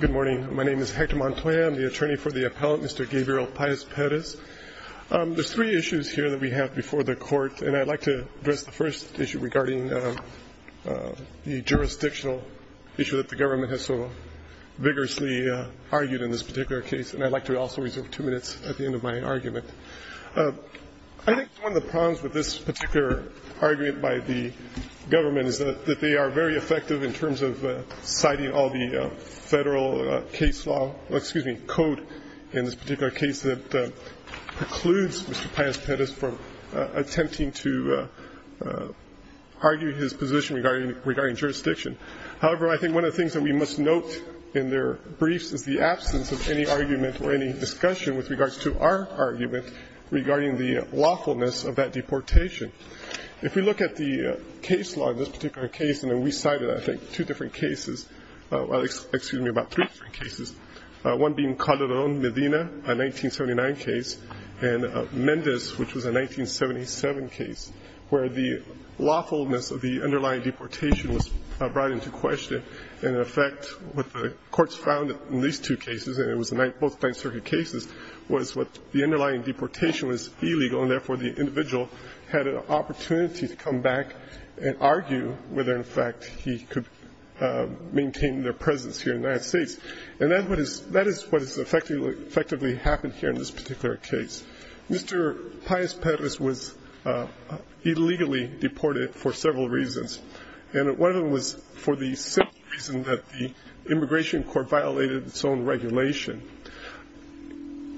Good morning, my name is Hector Montoya. I'm the attorney for the appellant, Mr. Gabriel Paez-Perez. There's three issues here that we have before the court, and I'd like to address the first issue regarding the jurisdictional issue that the government has so vigorously argued in this particular case, and I'd like to also reserve two minutes at the end of the hearing to address that. I think one of the problems with this particular argument by the government is that they are very effective in terms of citing all the federal case law, excuse me, code in this particular case that precludes Mr. Paez-Perez from attempting to argue his position regarding jurisdiction. However, I think one of the things that we must note in their briefs is the absence of any argument or any discussion with regards to our argument regarding the lawfulness of that deportation. If we look at the case law in this particular case, and we cited, I think, two different cases, excuse me, about three different cases, one being Calderón, Medina, a 1979 case, and Mendez, which was a 1977 case, where the lawfulness of the underlying deportation was brought into question. And in effect, what the courts found in these two cases, and it was both Ninth Circuit cases, was the underlying deportation was illegal, and therefore the individual had an opportunity to come back and argue whether, in fact, he could maintain their presence here in the United States. And that is what has effectively happened here in this particular case. Mr. Paez-Perez was illegally deported for several reasons, and one of them was for the simple reason that the Immigration Court violated its own regulation.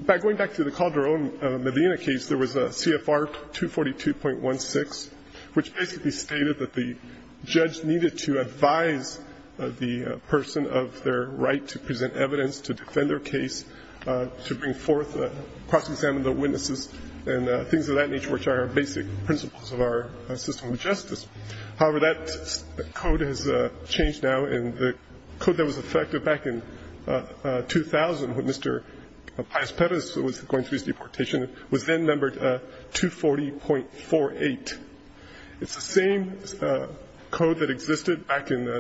By going back to the Calderón, Medina case, there was a CFR 242.16, which basically stated that the judge needed to advise the person of their right to present evidence, to defend their case, to bring forth, cross-examine the witnesses, and things of that nature, which are basic principles of our system of justice. However, that code has changed now, and the code that was effective back in 2000, when Mr. Paez-Perez was going through his deportation, was then numbered 240.48. It's the same code that existed back in the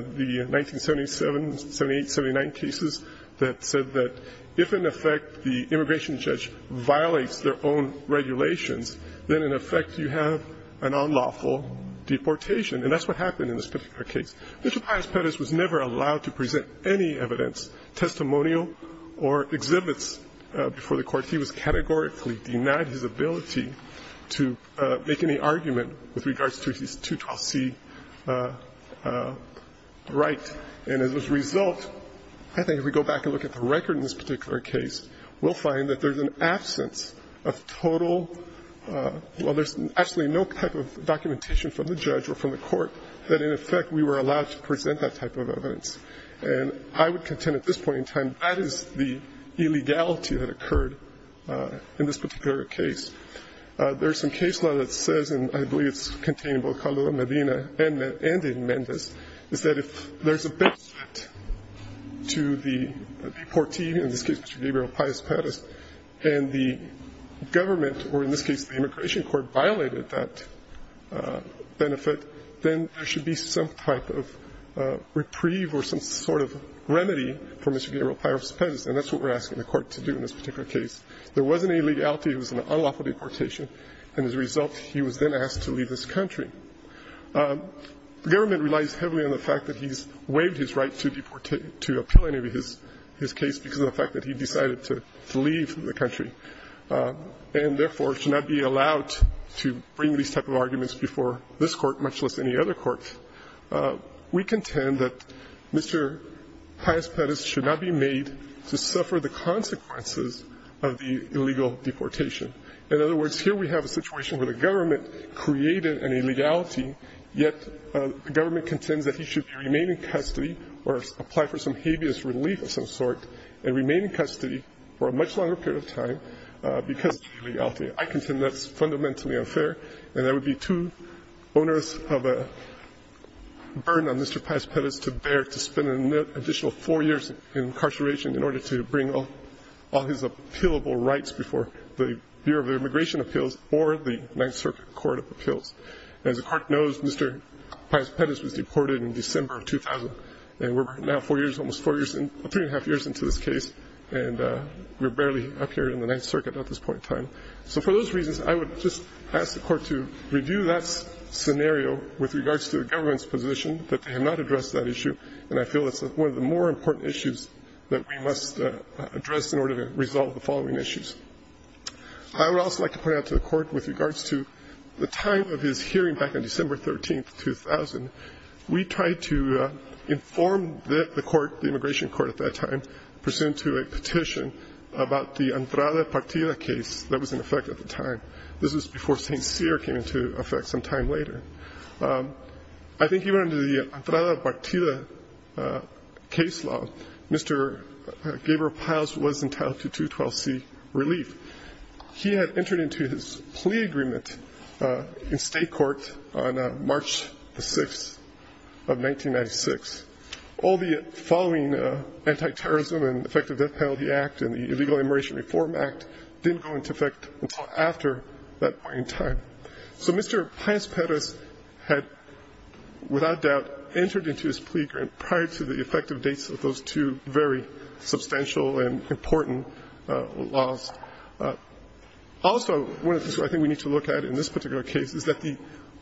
1977, 78, 79 cases that said that if, in effect, the immigration judge violates their own regulations, then, in effect, you have an unlawful deportation. And that's what happened in this particular case. Mr. Paez-Perez was never allowed to present any evidence, testimonial or exhibits, before the court. He was categorically denied his ability to make any argument with regards to his 212c right. And as a result, I think if we go back and look at the record in this particular case, we'll find that there's an absence of total, well, there's absolutely no type of documentation from the judge or from the court that, in effect, we were allowed to present that type of evidence. And I would contend at this point in time, that is the illegality that occurred in this particular case. There's some case law that says, and I believe it's contained in both Caldo de Medina and in Mendez, is that if there's a benefit to the deportee, in this case Mr. Gabriel Paez-Perez, and the government, or in this case the immigration court, violated that benefit, then there should be some type of reprieve or some sort of remedy for Mr. Gabriel Paez-Perez. And that's what we're asking the court to do in this particular case. There was an illegality. It was an unlawful deportation. And as a result, he was then asked to leave this country. The government relies heavily on the fact that he's waived his right to deportate to appeal any of his case because of the fact that he decided to leave the country and, therefore, should not be allowed to bring these type of arguments before this court, much less any other court. We contend that Mr. Paez-Perez should not be made to suffer the consequences of the illegal deportation. In other words, here we have a situation where the government created an illegality, yet the government contends that he should remain in custody or apply for some habeas relief of some sort and remain in custody for a much longer period of time because of the illegality. I contend that's fundamentally unfair. And that would be too onerous of a burden on Mr. Paez-Perez to bear to spend an additional four years in incarceration in order to bring all his appealable rights before the Bureau of Immigration Appeals or the Ninth Circuit Court of Appeals. As the Court knows, Mr. Paez-Perez was deported in December of 2000, and we're now four years, almost three and a half years into this case, and we're barely up here in the Ninth Circuit at this point in time. So for those reasons, I would just ask the Court to review that scenario with regards to the government's position that they have not addressed that issue, and I feel that's one of the more important issues that we must address in order to resolve the following issues. I would also like to point out to the Court with regards to the time of his hearing back on December 13, 2000, we tried to inform the Court, the Immigration Court at that time, to present to a petition about the Entrada Partida case that was in effect at the time. This was before St. Cyr came into effect some time later. I think even under the Entrada Partida case law, Mr. Gabriel Paez was entitled to 212C relief. He had entered into his plea agreement in state court on March 6 of 1996. All the following Antiterrorism and Effective Death Penalty Act and the Illegal Immigration Reform Act didn't go into effect until after that point in time. So Mr. Paez-Perez had, without doubt, entered into his plea agreement prior to the effective dates of those two very substantial and important laws. Also, one of the things I think we need to look at in this particular case is that the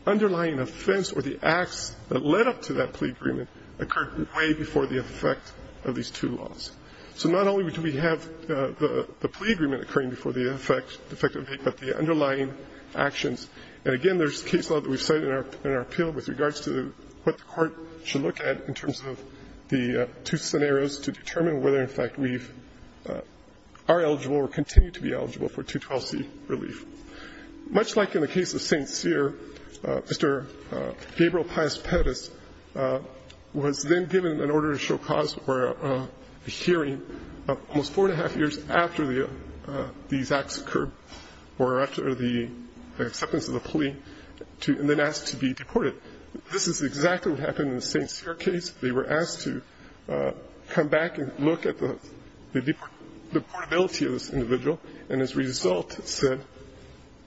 underlying offense or the acts that led up to that plea agreement occurred way before the effect of these two laws. So not only do we have the plea agreement occurring before the effective date, but the underlying actions. And again, there's case law that we've cited in our appeal with regards to what the Court should look at in terms of the two scenarios to determine whether, in fact, we are eligible or continue to be eligible for 212C relief. Much like in the case of St. Cyr, Mr. Gabriel Paez-Perez was then given an order to show cause for a hearing almost four and a half years after these acts occurred or after the acceptance of the plea and then asked to be deported. This is exactly what happened in the St. Cyr case. They were asked to come back and look at the deportability of this individual, and as a result said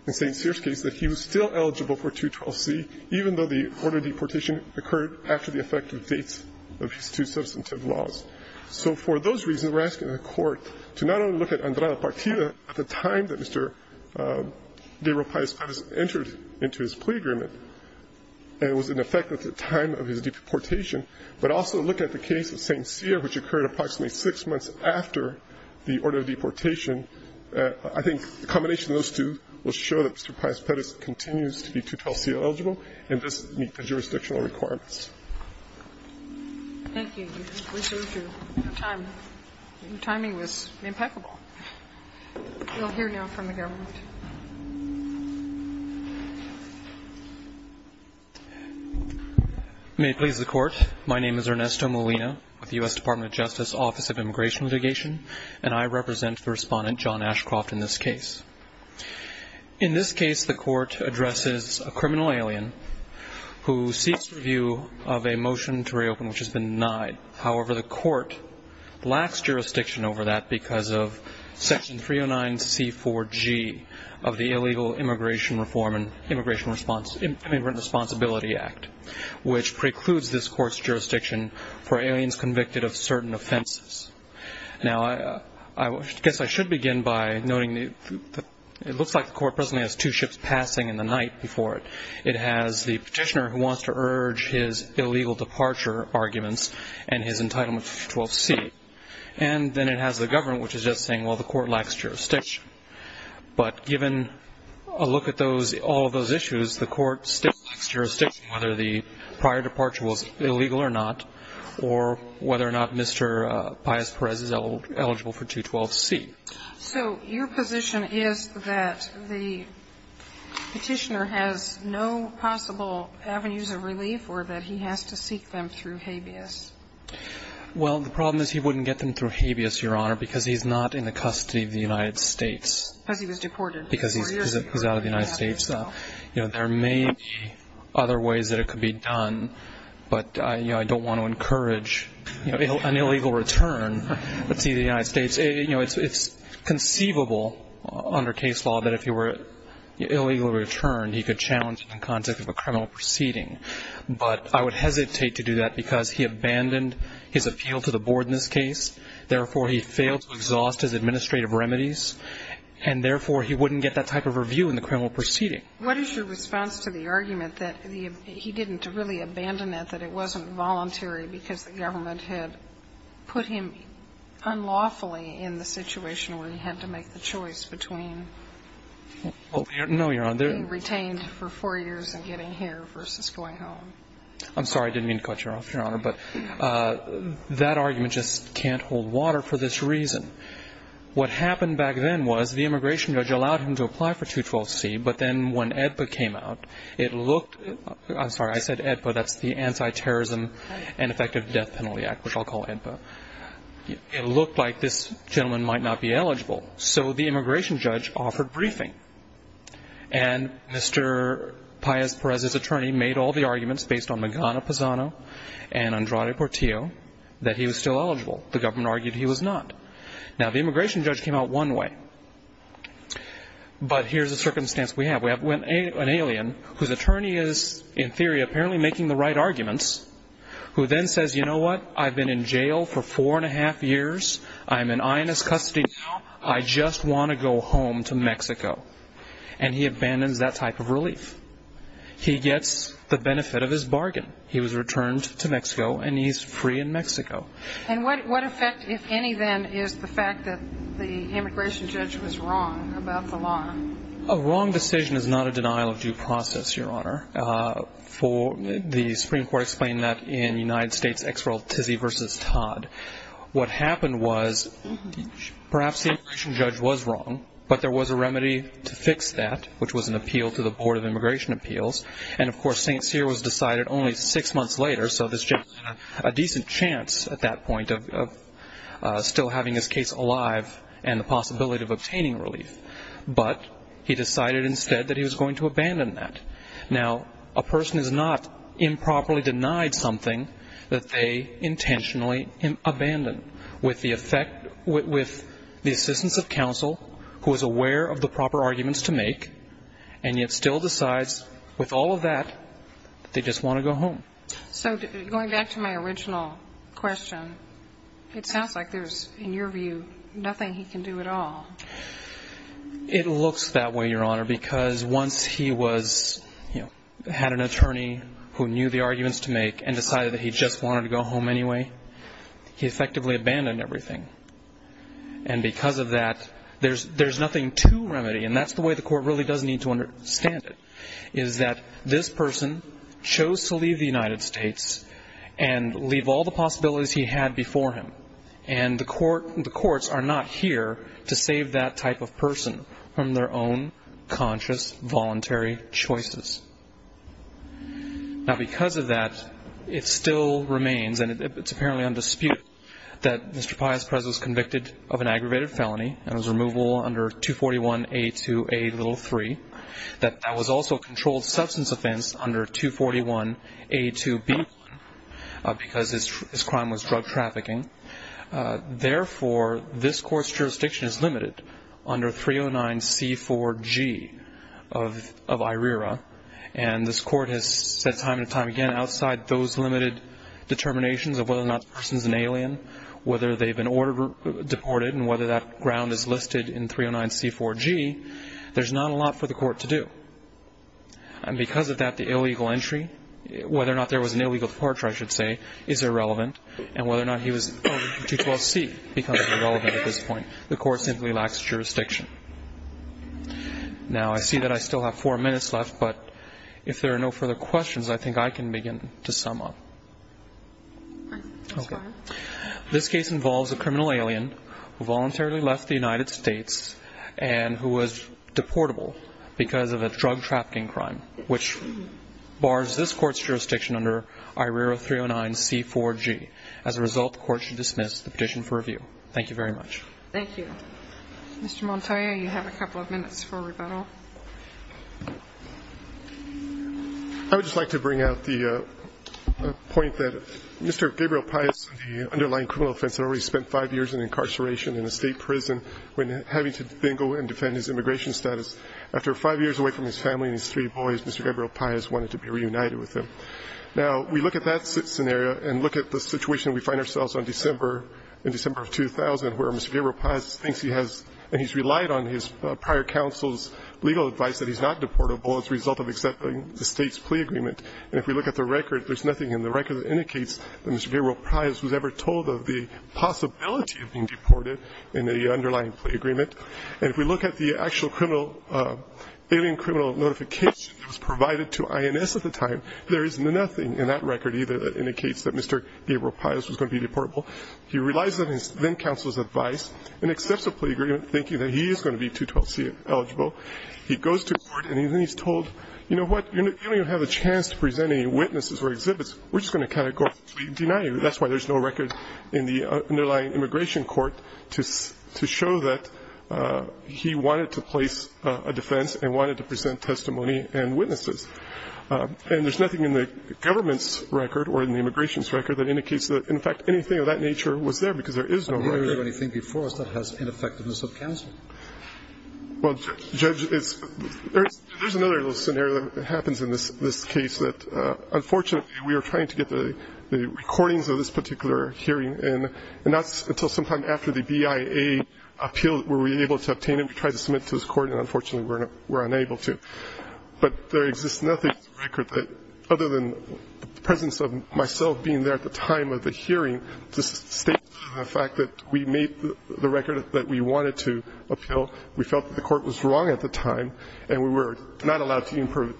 in St. Cyr's case that he was still eligible for 212C, even though the order of deportation occurred after the effective dates of his two substantive laws. So for those reasons, we're asking the Court to not only look at Andrada Partida at the time that Mr. Gabriel Paez-Perez entered into his plea agreement, and it was in effect at the time of his deportation, but also look at the case of St. Cyr, which occurred approximately six months after the order of deportation. I think the combination of those two will show that Mr. Paez-Perez continues to be 212C eligible and does meet the jurisdictional requirements. Thank you. Your timing was impeccable. We'll hear now from the government. May it please the Court. My name is Ernesto Molina with the U.S. Department of Justice Office of Immigration and Litigation, and I represent the respondent, John Ashcroft, in this case. In this case, the Court addresses a criminal alien who seeks review of a motion to reopen which has been denied. However, the Court lacks jurisdiction over that because of Section 309C4G of the Illegal Immigration Reform and Immigrant Responsibility Act, which precludes this Court's jurisdiction for aliens convicted of certain offenses. Now, I guess I should begin by noting that it looks like the Court presently has two ships passing in the night before it. It has the petitioner who wants to urge his illegal departure arguments and his entitlement to 212C. And then it has the government, which is just saying, well, the Court lacks jurisdiction. But given a look at all of those issues, the Court still lacks jurisdiction, whether the prior departure was illegal or not, or whether or not Mr. Paez-Perez is eligible for 212C. So your position is that the petitioner has no possible avenues of relief or that he has to seek them through habeas? Well, the problem is he wouldn't get them through habeas, Your Honor, because he's not in the custody of the United States. Because he was deported. Because he's out of the United States. You know, there may be other ways that it could be done, but I don't want to encourage an illegal return to the United States. You know, it's conceivable under case law that if he were illegally returned, he could challenge it in the context of a criminal proceeding. But I would hesitate to do that because he abandoned his appeal to the board in this case. Therefore, he failed to exhaust his administrative remedies. And therefore, he wouldn't get that type of review in the criminal proceeding. What is your response to the argument that he didn't really abandon it, that it wasn't voluntary because the government had put him unlawfully in the situation where he had to make the choice between being retained for four years and getting here versus going home? I'm sorry. I didn't mean to cut you off, Your Honor. But that argument just can't hold water for this reason. What happened back then was the immigration judge allowed him to apply for 212C, but then when AEDPA came out, it looked – I'm sorry, I said AEDPA. That's the Anti-Terrorism and Effective Death Penalty Act, which I'll call AEDPA. It looked like this gentleman might not be eligible. So the immigration judge offered briefing. And Mr. Paez-Perez's attorney made all the arguments based on Magana-Pazano and Andrade Portillo that he was still eligible. The government argued he was not. Now, the immigration judge came out one way. But here's the circumstance we have. We have an alien whose attorney is, in theory, apparently making the right arguments, who then says, you know what, I've been in jail for four and a half years. I'm in honest custody now. I just want to go home to Mexico. And he abandons that type of relief. He gets the benefit of his bargain. He was returned to Mexico, and he's free in Mexico. And what effect, if any, then, is the fact that the immigration judge was wrong about the law? A wrong decision is not a denial of due process, Your Honor. The Supreme Court explained that in United States' ex-rel Tizzy v. Todd. What happened was perhaps the immigration judge was wrong, but there was a remedy to fix that, which was an appeal to the Board of Immigration Appeals. And, of course, St. Cyr was decided only six months later, so this gentleman had a decent chance at that point of still having his case alive and the possibility of obtaining relief. But he decided instead that he was going to abandon that. Now, a person is not improperly denied something that they intentionally abandon. With the effect, with the assistance of counsel, who is aware of the proper arguments to make, and yet still decides, with all of that, that they just want to go home. So going back to my original question, it sounds like there's, in your view, nothing he can do at all. It looks that way, Your Honor, because once he was, you know, had an attorney who knew the arguments to make and decided that he just wanted to go home anyway, he effectively abandoned everything. And because of that, there's nothing to remedy, and that's the way the court really does need to understand it, is that this person chose to leave the United States and leave all the possibilities he had before him. And the courts are not here to save that type of person from their own conscious, voluntary choices. Now, because of that, it still remains, and it's apparently undisputed, that Mr. Pius Press was convicted of an aggravated felony and was removable under 241A2A3, that that was also a controlled substance offense under 241A2B1, because his crime was drug trafficking. Therefore, this court's jurisdiction is limited under 309C4G of IRERA, and this court has said time and time again, outside those limited determinations of whether or not the person is an alien, whether they've been deported, and whether that ground is listed in 309C4G, there's not a lot for the court to do. And because of that, the illegal entry, whether or not there was an illegal departure, I should say, is irrelevant, and whether or not he was owed under 212C becomes irrelevant at this point. The court simply lacks jurisdiction. Now, I see that I still have four minutes left, but if there are no further questions, I think I can begin to sum up. Okay. This case involves a criminal alien who voluntarily left the United States and who was deportable because of a drug trafficking crime, which bars this court's jurisdiction under IRERA 309C4G. As a result, the court should dismiss the petition for review. Thank you very much. Thank you. Mr. Montoya, you have a couple of minutes for rebuttal. I would just like to bring out the point that Mr. Gabriel Pais, the underlying criminal offense, had already spent five years in incarceration in a state prison when having to bingo and defend his immigration status. After five years away from his family and his three boys, Mr. Gabriel Pais wanted to be reunited with them. Now, we look at that scenario and look at the situation we find ourselves in December of 2000, where Mr. Gabriel Pais thinks he has, and he's relied on his prior counsel's legal advice that he's not deportable as a result of accepting the state's plea agreement. And if we look at the record, there's nothing in the record that indicates that Mr. Gabriel Pais was ever told of the possibility of being deported in the underlying plea agreement. And if we look at the actual alien criminal notification that was provided to INS at the time, there is nothing in that record either that indicates that Mr. Gabriel Pais was going to be deportable. He relies on his then-counsel's advice and accepts a plea agreement thinking that he is going to be 212C eligible. He goes to court, and he's told, you know what, you don't even have a chance to present any witnesses or exhibits. We're just going to categorically deny you. That's why there's no record in the underlying immigration court to show that he wanted to place a defense and wanted to present testimony and witnesses. And there's nothing in the government's record or in the immigration's record that indicates that, in fact, anything of that nature was there because there is no record. Kennedy. Do you have anything before us that has ineffectiveness of counsel? Well, Judge, there's another little scenario that happens in this case that, unfortunately, we were trying to get the recordings of this particular hearing, and not until sometime after the BIA appeal were we able to obtain them to try to submit to this court, and unfortunately we're unable to. But there exists nothing in the record other than the presence of myself being there at the time of the hearing to state the fact that we made the record that we wanted to appeal. We felt that the court was wrong at the time, and we were not allowed to even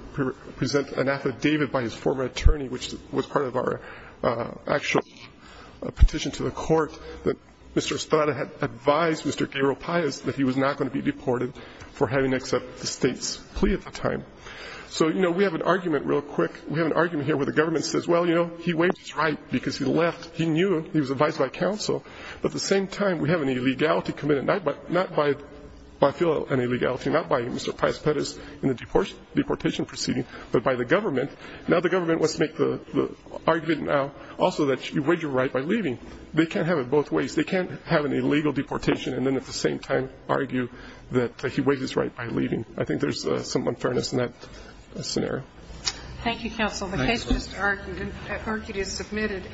present an affidavit by his former attorney, which was part of our actual petition to the court that Mr. Estrada had advised Mr. Gabriel Pais that he was not going to be deported for having accepted the state's plea at the time. So, you know, we have an argument real quick. We have an argument here where the government says, well, you know, he waived his right because he left. He knew he was advised by counsel, but at the same time we have an illegality committed, not by Mr. Pais Perez in the deportation proceeding, but by the government. Now the government wants to make the argument now also that you waived your right by leaving. They can't have it both ways. They can't have an illegal deportation and then at the same time argue that he waived his right by leaving. I think there's some unfairness in that scenario. Thank you, counsel. The case is submitted.